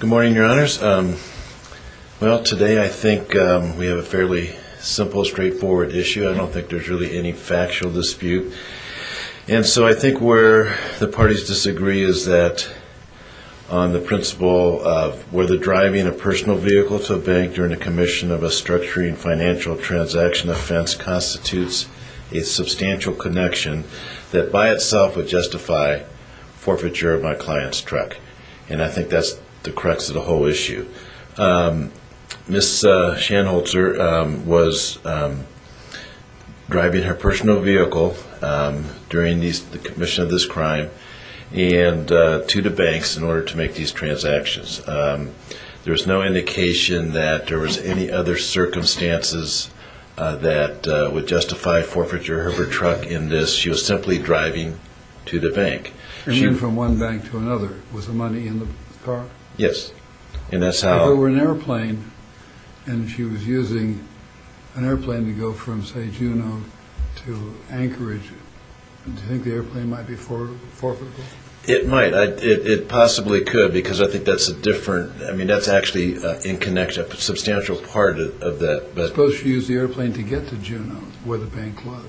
Good morning, your honors. Well, today I think we have a fairly simple, straightforward issue. I don't think there's really any factual dispute. And so I think where the parties disagree is that on the principle of whether driving a personal vehicle to a bank during a commission of a structuring financial transaction offense constitutes a substantial connection that by itself would justify forfeiture of my client's truck. And I think that's the crux of the whole issue. Ms. Shanholtzer was driving her personal vehicle during the commission of this crime to the banks in order to make these transactions. There was no indication that there was any other circumstances that would justify forfeiture of her truck in this. She was simply driving to the bank. You mean from one bank to another with the money in the car? Yes, and that's how... If it were an airplane and she was using an airplane to go from, say, Juneau to Anchorage, do you think the airplane might be forfeitable? It might. It possibly could because I think that's a different, I mean, that's actually in connection, a substantial part of that. Suppose she used the airplane to get to Juneau where the bank was.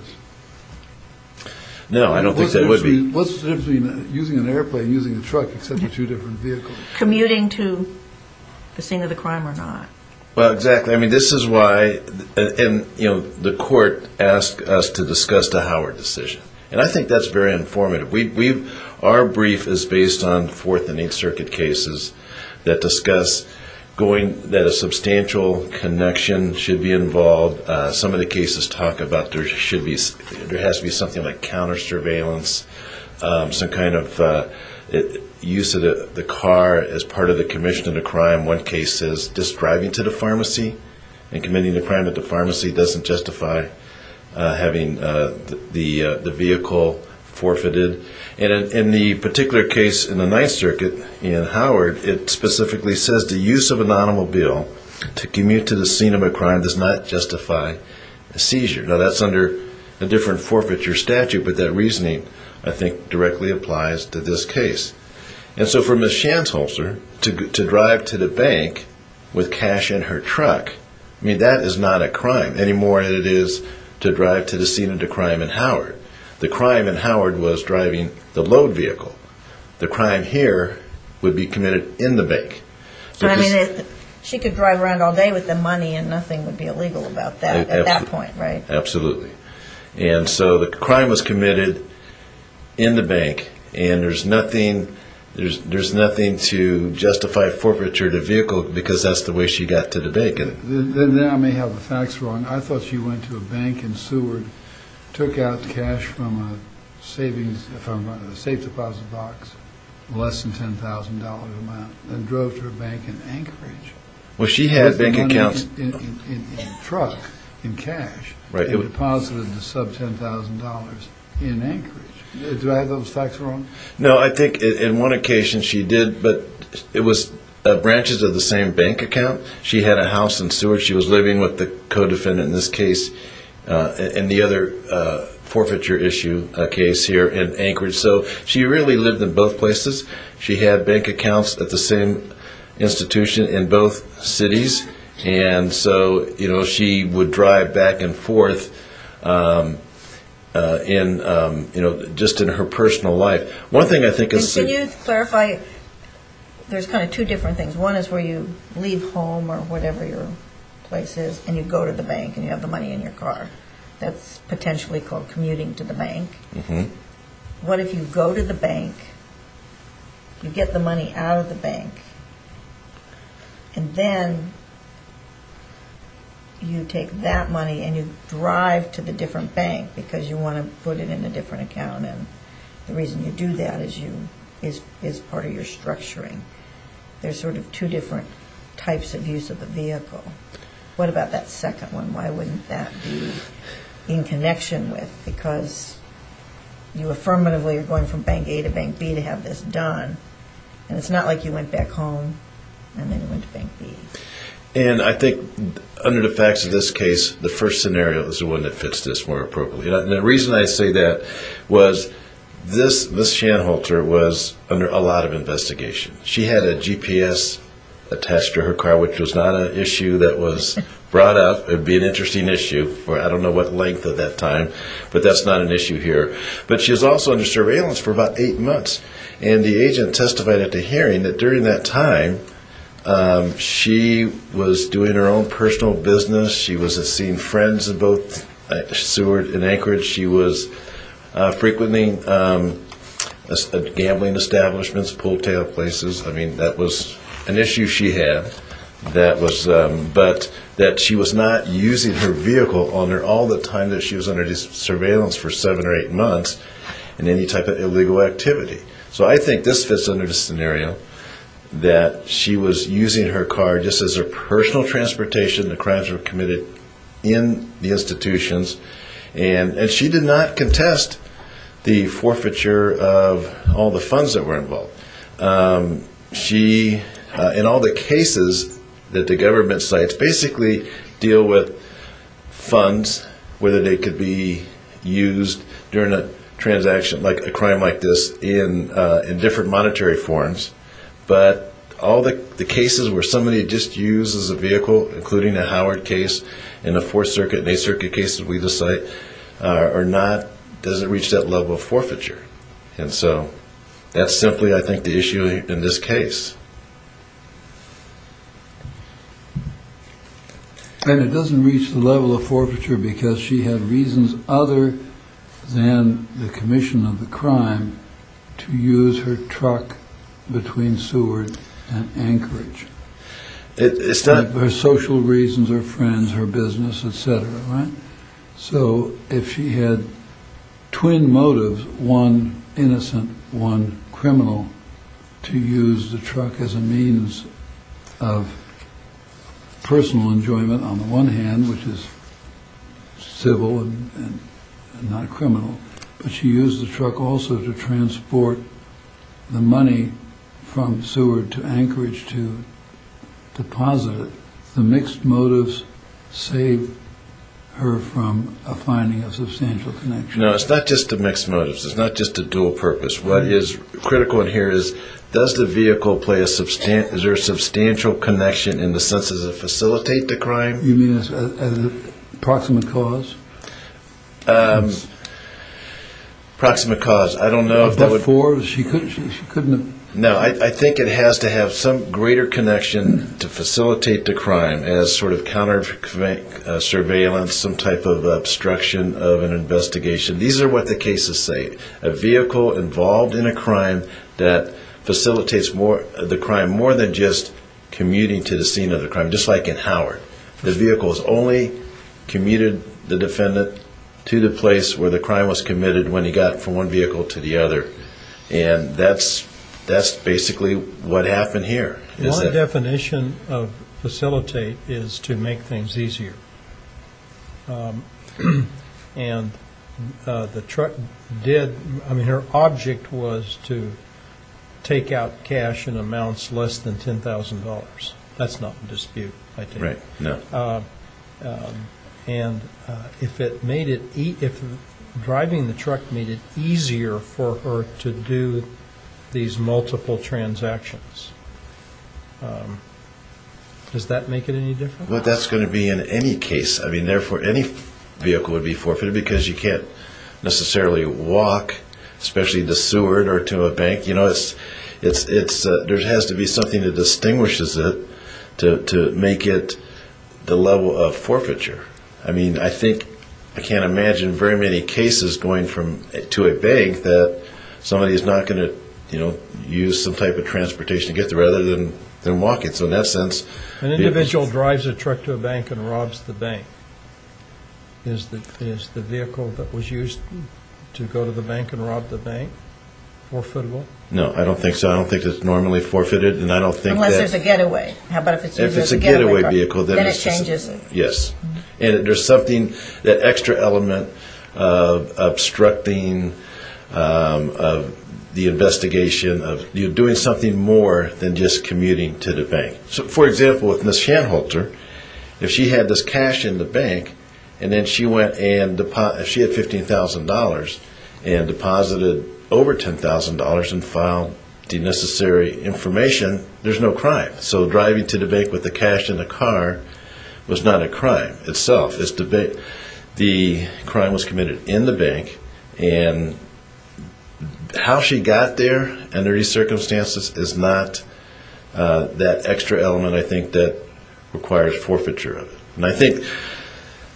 No, I don't think that would be... What's the difference between using an airplane and using a truck except for two different vehicles? Commuting to the scene of the crime or not. Well, exactly. I mean, this is why the court asked us to discuss the Howard decision, and I think that's very informative. Our brief is based on Fourth and Eighth Circuit cases that discuss that a substantial connection should be involved. Some of the cases talk about there has to be something like counter-surveillance, some kind of use of the car as part of the commission of the crime. One case says just driving to the pharmacy and committing the crime at the pharmacy doesn't justify having the vehicle forfeited. And in the particular case in the Ninth Circuit in Howard, it specifically says the use of an automobile to commute to the scene of a crime does not justify a seizure. Now, that's under a different forfeiture statute, but that reasoning, I think, directly applies to this case. And so for Ms. Schanzholzer to drive to the bank with cash in her truck, I mean, that is not a crime any more than it is to drive to the scene of the crime in Howard. The crime in Howard was driving the load vehicle. The crime here would be committed in the bank. I mean, she could drive around all day with the money and nothing would be illegal about that at that point, right? Absolutely. And so the crime was committed in the bank, and there's nothing to justify forfeiture of the vehicle because that's the way she got to the bank. Then I may have the facts wrong. I thought she went to a bank in Seward, took out cash from a safe deposit box, less than $10,000 a month, and drove to a bank in Anchorage. Well, she had bank accounts. In a truck, in cash. Right. And deposited the sub-$10,000 in Anchorage. Do I have those facts wrong? No, I think in one occasion she did, but it was branches of the same bank account. She had a house in Seward. She was living with the co-defendant in this case and the other forfeiture issue case here in Anchorage. So she really lived in both places. She had bank accounts at the same institution in both cities. And so she would drive back and forth just in her personal life. Can you clarify? There's kind of two different things. One is where you leave home or whatever your place is and you go to the bank and you have the money in your car. That's potentially called commuting to the bank. What if you go to the bank, you get the money out of the bank, and then you take that money and you drive to the different bank because you want to put it in a different account. And the reason you do that is part of your structuring. There's sort of two different types of use of the vehicle. What about that second one? Why wouldn't that be in connection with? Because you affirmatively are going from bank A to bank B to have this done. And it's not like you went back home and then you went to bank B. And I think under the facts of this case, the first scenario is the one that fits this more appropriately. And the reason I say that was this Shanholter was under a lot of investigation. She had a GPS attached to her car, which was not an issue that was brought up. It would be an interesting issue for I don't know what length of that time, but that's not an issue here. But she was also under surveillance for about eight months. And the agent testified at the hearing that during that time, she was doing her own personal business. She was seeing friends in both Seward and Anchorage. She was frequently at gambling establishments, pull-tail places. I mean, that was an issue she had. But that she was not using her vehicle all the time that she was under surveillance for seven or eight months in any type of illegal activity. So I think this fits under the scenario that she was using her car just as her personal transportation. The crimes were committed in the institutions. And she did not contest the forfeiture of all the funds that were involved. She, in all the cases that the government cites, basically deal with funds, whether they could be used during a transaction, like a crime like this, in different monetary forms. But all the cases where somebody just uses a vehicle, including the Howard case and the Fourth Circuit and Eighth Circuit cases we just cite, are not, doesn't reach that level of forfeiture. And so that's simply, I think, the issue in this case. And it doesn't reach the level of forfeiture because she had reasons other than the commission of the crime to use her truck between Seward and Anchorage. Her social reasons, her friends, her business, etc. So if she had twin motives, one innocent, one criminal, to use the truck as a means of personal enjoyment on the one hand, which is civil and not criminal, but she used the truck also to transport the money from Seward to Anchorage to deposit it. The mixed motives save her from finding a substantial connection. No, it's not just the mixed motives. It's not just the dual purpose. What is critical in here is, does the vehicle play a substantial, is there a substantial connection in the sense of facilitate the crime? You mean as a proximate cause? Proximate cause. I don't know if that would... Before she couldn't... No, I think it has to have some greater connection to facilitate the crime as sort of counter surveillance, some type of obstruction of an investigation. These are what the cases say. A vehicle involved in a crime that facilitates the crime more than just commuting to the scene of the crime, just like in Howard. The vehicle has only commuted the defendant to the place where the crime was committed when he got from one vehicle to the other. And that's basically what happened here. My definition of facilitate is to make things easier. And the truck did, I mean, her object was to take out cash in amounts less than $10,000. That's not in dispute, I think. Right, no. And if it made it, if driving the truck made it easier for her to do these multiple transactions, does that make it any different? Well, that's going to be in any case. I mean, therefore, any vehicle would be forfeited because you can't necessarily walk, especially to Seward or to a bank. There has to be something that distinguishes it to make it the level of forfeiture. I mean, I think I can't imagine very many cases going to a bank that somebody is not going to use some type of transportation to get there, rather than walking. So in that sense, an individual drives a truck to a bank and robs the bank. Is the vehicle that was used to go to the bank and rob the bank forfeitable? No, I don't think so. I don't think it's normally forfeited, and I don't think that. Unless there's a getaway. How about if it's used as a getaway? If it's a getaway vehicle, then it's just. Then it changes. Yes. And there's something, that extra element of obstructing the investigation of you doing something more than just commuting to the bank. For example, with Ms. Schanholter, if she had this cash in the bank, and then she had $15,000 and deposited over $10,000 and filed the necessary information, there's no crime. So driving to the bank with the cash in the car was not a crime itself. The crime was committed in the bank, and how she got there under these circumstances is not that extra element, I think, that requires forfeiture of it. And I think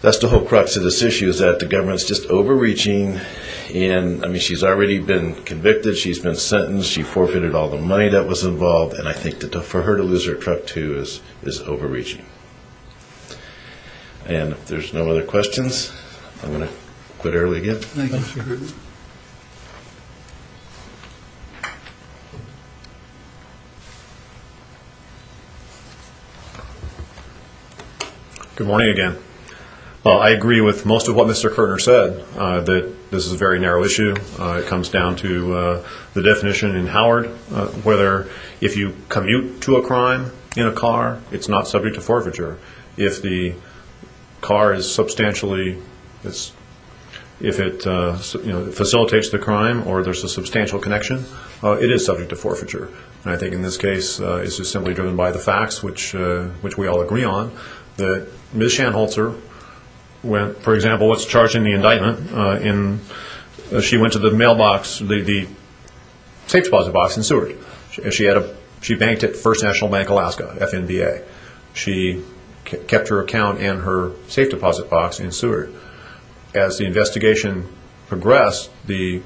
that's the whole crux of this issue, is that the government's just overreaching. And, I mean, she's already been convicted. She's been sentenced. She forfeited all the money that was involved, and I think for her to lose her truck, too, is overreaching. And if there's no other questions, I'm going to quit early again. Thank you, Mr. Kirtner. Good morning again. I agree with most of what Mr. Kirtner said, that this is a very narrow issue. It comes down to the definition in Howard, whether if you commute to a crime in a car, it's not subject to forfeiture. If the car is substantially, if it facilitates the crime or there's a substantial connection, it is subject to forfeiture. And I think in this case, it's just simply driven by the facts, which we all agree on. Ms. Schanholzer, for example, was charged in the indictment. She went to the mailbox, the safe deposit box in Seward. She banked at First National Bank, Alaska, FNBA. She kept her account and her safe deposit box in Seward. As the investigation progressed, the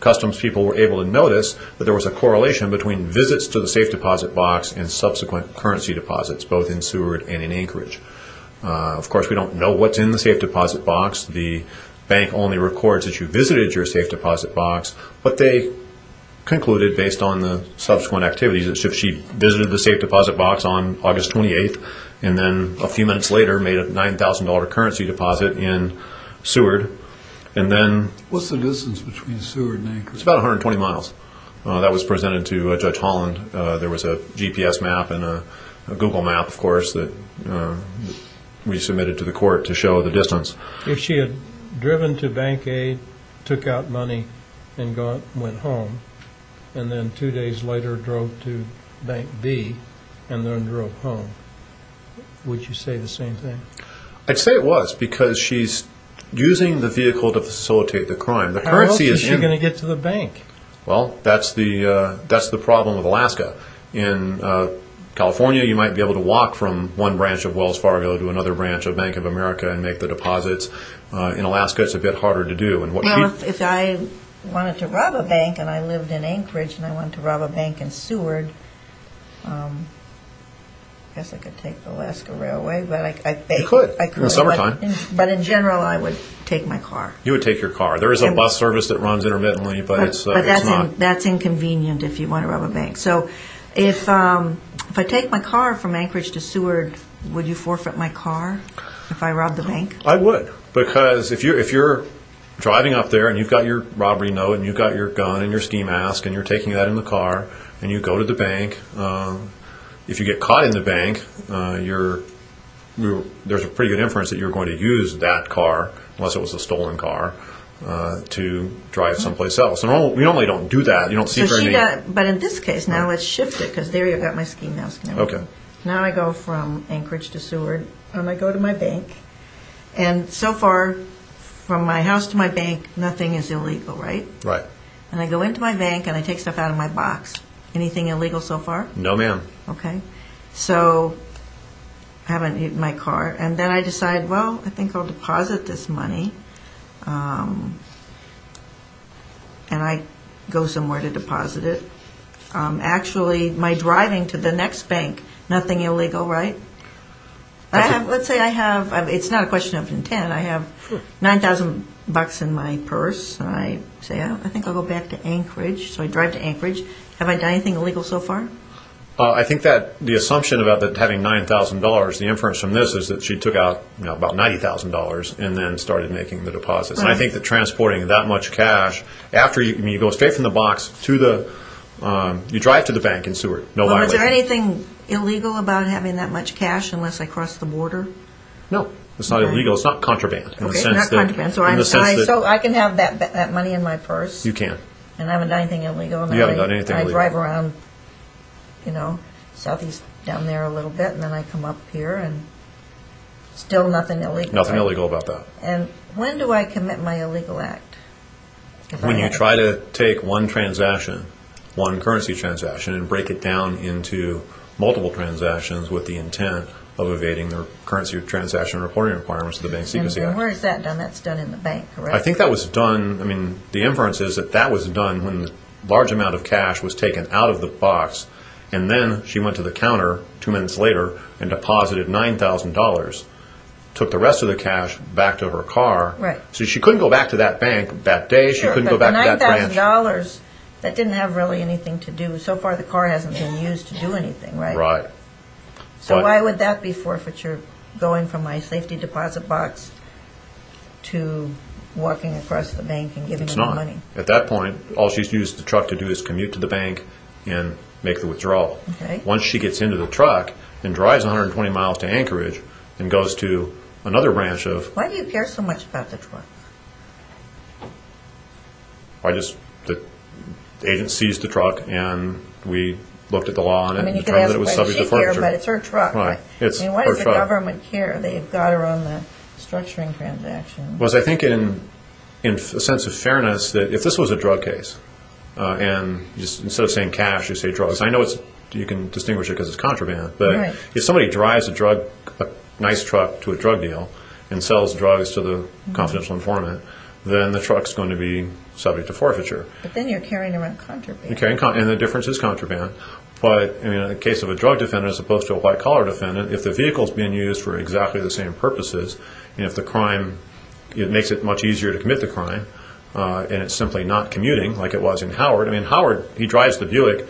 customs people were able to notice that there was a correlation between visits to the safe deposit box and subsequent currency deposits, both in Seward and in Anchorage. Of course, we don't know what's in the safe deposit box. The bank only records that you visited your safe deposit box. But they concluded, based on the subsequent activities, that she visited the safe deposit box on August 28th, and then a few minutes later made a $9,000 currency deposit in Seward. What's the distance between Seward and Anchorage? It's about 120 miles. That was presented to Judge Holland. There was a GPS map and a Google map, of course, that we submitted to the court to show the distance. If she had driven to Bank A, took out money, and went home, and then two days later drove to Bank B, and then drove home, would you say the same thing? I'd say it was, because she's using the vehicle to facilitate the crime. How else is she going to get to the bank? Well, that's the problem with Alaska. In California, you might be able to walk from one branch of Wells Fargo to another branch of Bank of America and make the deposits. In Alaska, it's a bit harder to do. Now, if I wanted to rob a bank, and I lived in Anchorage, and I wanted to rob a bank in Seward, I guess I could take the Alaska Railway. You could, in the summertime. But in general, I would take my car. You would take your car. There is a bus service that runs intermittently, but it's not... But that's inconvenient if you want to rob a bank. So if I take my car from Anchorage to Seward, would you forfeit my car if I robbed the bank? I would, because if you're driving up there, and you've got your robbery note, and you've got your gun and your ski mask, and you're taking that in the car, and you go to the bank, if you get caught in the bank, there's a pretty good inference that you're going to use that car, unless it was a stolen car, to drive someplace else. We normally don't do that. But in this case, now let's shift it, because there you've got my ski mask. Now I go from Anchorage to Seward, and I go to my bank. And so far, from my house to my bank, nothing is illegal, right? Right. And I go into my bank, and I take stuff out of my box. Anything illegal so far? No, ma'am. Okay. So I have my car, and then I decide, well, I think I'll deposit this money. And I go somewhere to deposit it. Actually, my driving to the next bank, nothing illegal, right? Let's say I have, it's not a question of intent, I have $9,000 in my purse, and I say, I think I'll go back to Anchorage, so I drive to Anchorage. Have I done anything illegal so far? I think that the assumption about having $9,000, the inference from this, is that she took out about $90,000 and then started making the deposits. And I think that transporting that much cash, after you go straight from the box to the, you drive to the bank in Seward. Well, is there anything illegal about having that much cash unless I cross the border? No, it's not illegal. It's not contraband. Okay, not contraband. So I can have that money in my purse? You can. And I haven't done anything illegal? You haven't done anything illegal. I drive around, you know, southeast down there a little bit, and then I come up here, and still nothing illegal. Nothing illegal about that. And when do I commit my illegal act? When you try to take one transaction, one currency transaction, and break it down into multiple transactions with the intent of evading the currency transaction reporting requirements of the Bank Secrecy Act. And where is that done? That's done in the bank, correct? I think that was done, I mean, the inference is that that was done when a large amount of cash was taken out of the box, and then she went to the counter two minutes later and deposited $9,000, took the rest of the cash back to her car. So she couldn't go back to that bank that day, she couldn't go back to that branch. Sure, but the $9,000, that didn't have really anything to do, so far the car hasn't been used to do anything, right? Right. So why would that be forfeiture, going from my safety deposit box to walking across the bank and giving them the money? At that point, all she's used the truck to do is commute to the bank and make the withdrawal. Once she gets into the truck and drives 120 miles to Anchorage and goes to another branch of... Why do you care so much about the truck? I just, the agent sees the truck and we looked at the law on it and determined that it was subject to forfeiture. I mean, you can ask why she cares, but it's her truck. Right, it's her truck. I mean, why does the government care? They've got her on the structuring transaction. Well, as I think in a sense of fairness, if this was a drug case, and instead of saying cash, you say drugs, I know you can distinguish it because it's contraband, but if somebody drives a nice truck to a drug deal and sells drugs to the confidential informant, then the truck's going to be subject to forfeiture. But then you're carrying around contraband. And the difference is contraband, but in the case of a drug defendant as opposed to a white-collar defendant, if the vehicle's being used for exactly the same purposes, and if the crime, it makes it much easier to commit the crime, and it's simply not commuting like it was in Howard. I mean, Howard, he drives the Buick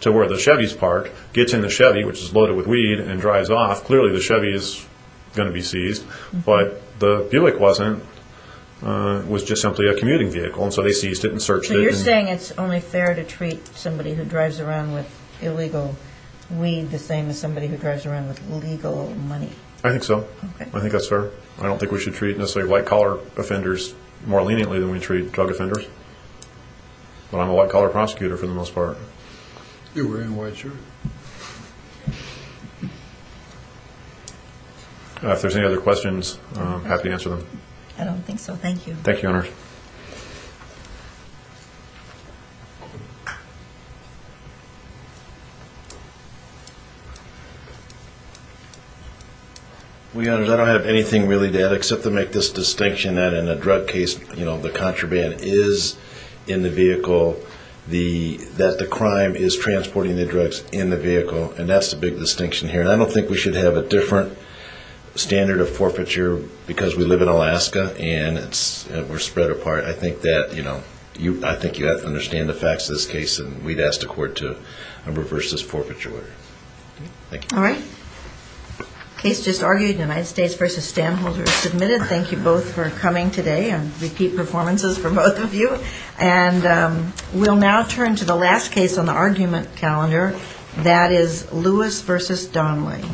to where the Chevys park, gets in the Chevy, which is loaded with weed, and drives off. Clearly the Chevy is going to be seized, but the Buick wasn't, was just simply a commuting vehicle, and so they seized it and searched it. So you're saying it's only fair to treat somebody who drives around with illegal weed the same as somebody who drives around with legal money. I think so. Okay. I think that's fair. I don't think we should treat necessarily white-collar offenders more leniently than we treat drug offenders. But I'm a white-collar prosecutor for the most part. You're wearing white shirt. If there's any other questions, I'm happy to answer them. I don't think so. Thank you. Thank you, Your Honors. Well, Your Honors, I don't have anything really to add except to make this distinction that in a drug case, you know, the contraband is in the vehicle, that the crime is transporting the drugs in the vehicle, and that's the big distinction here. And I don't think we should have a different standard of forfeiture because we live in Alaska and we're spread apart. I think that, you know, I think you have to understand the facts of this case and we'd ask the court to reverse this forfeiture order. Thank you. All right. Case just argued, United States v. Stamholder submitted. Thank you both for coming today and repeat performances for both of you. And we'll now turn to the last case on the argument calendar. That is Lewis v. Donnelly.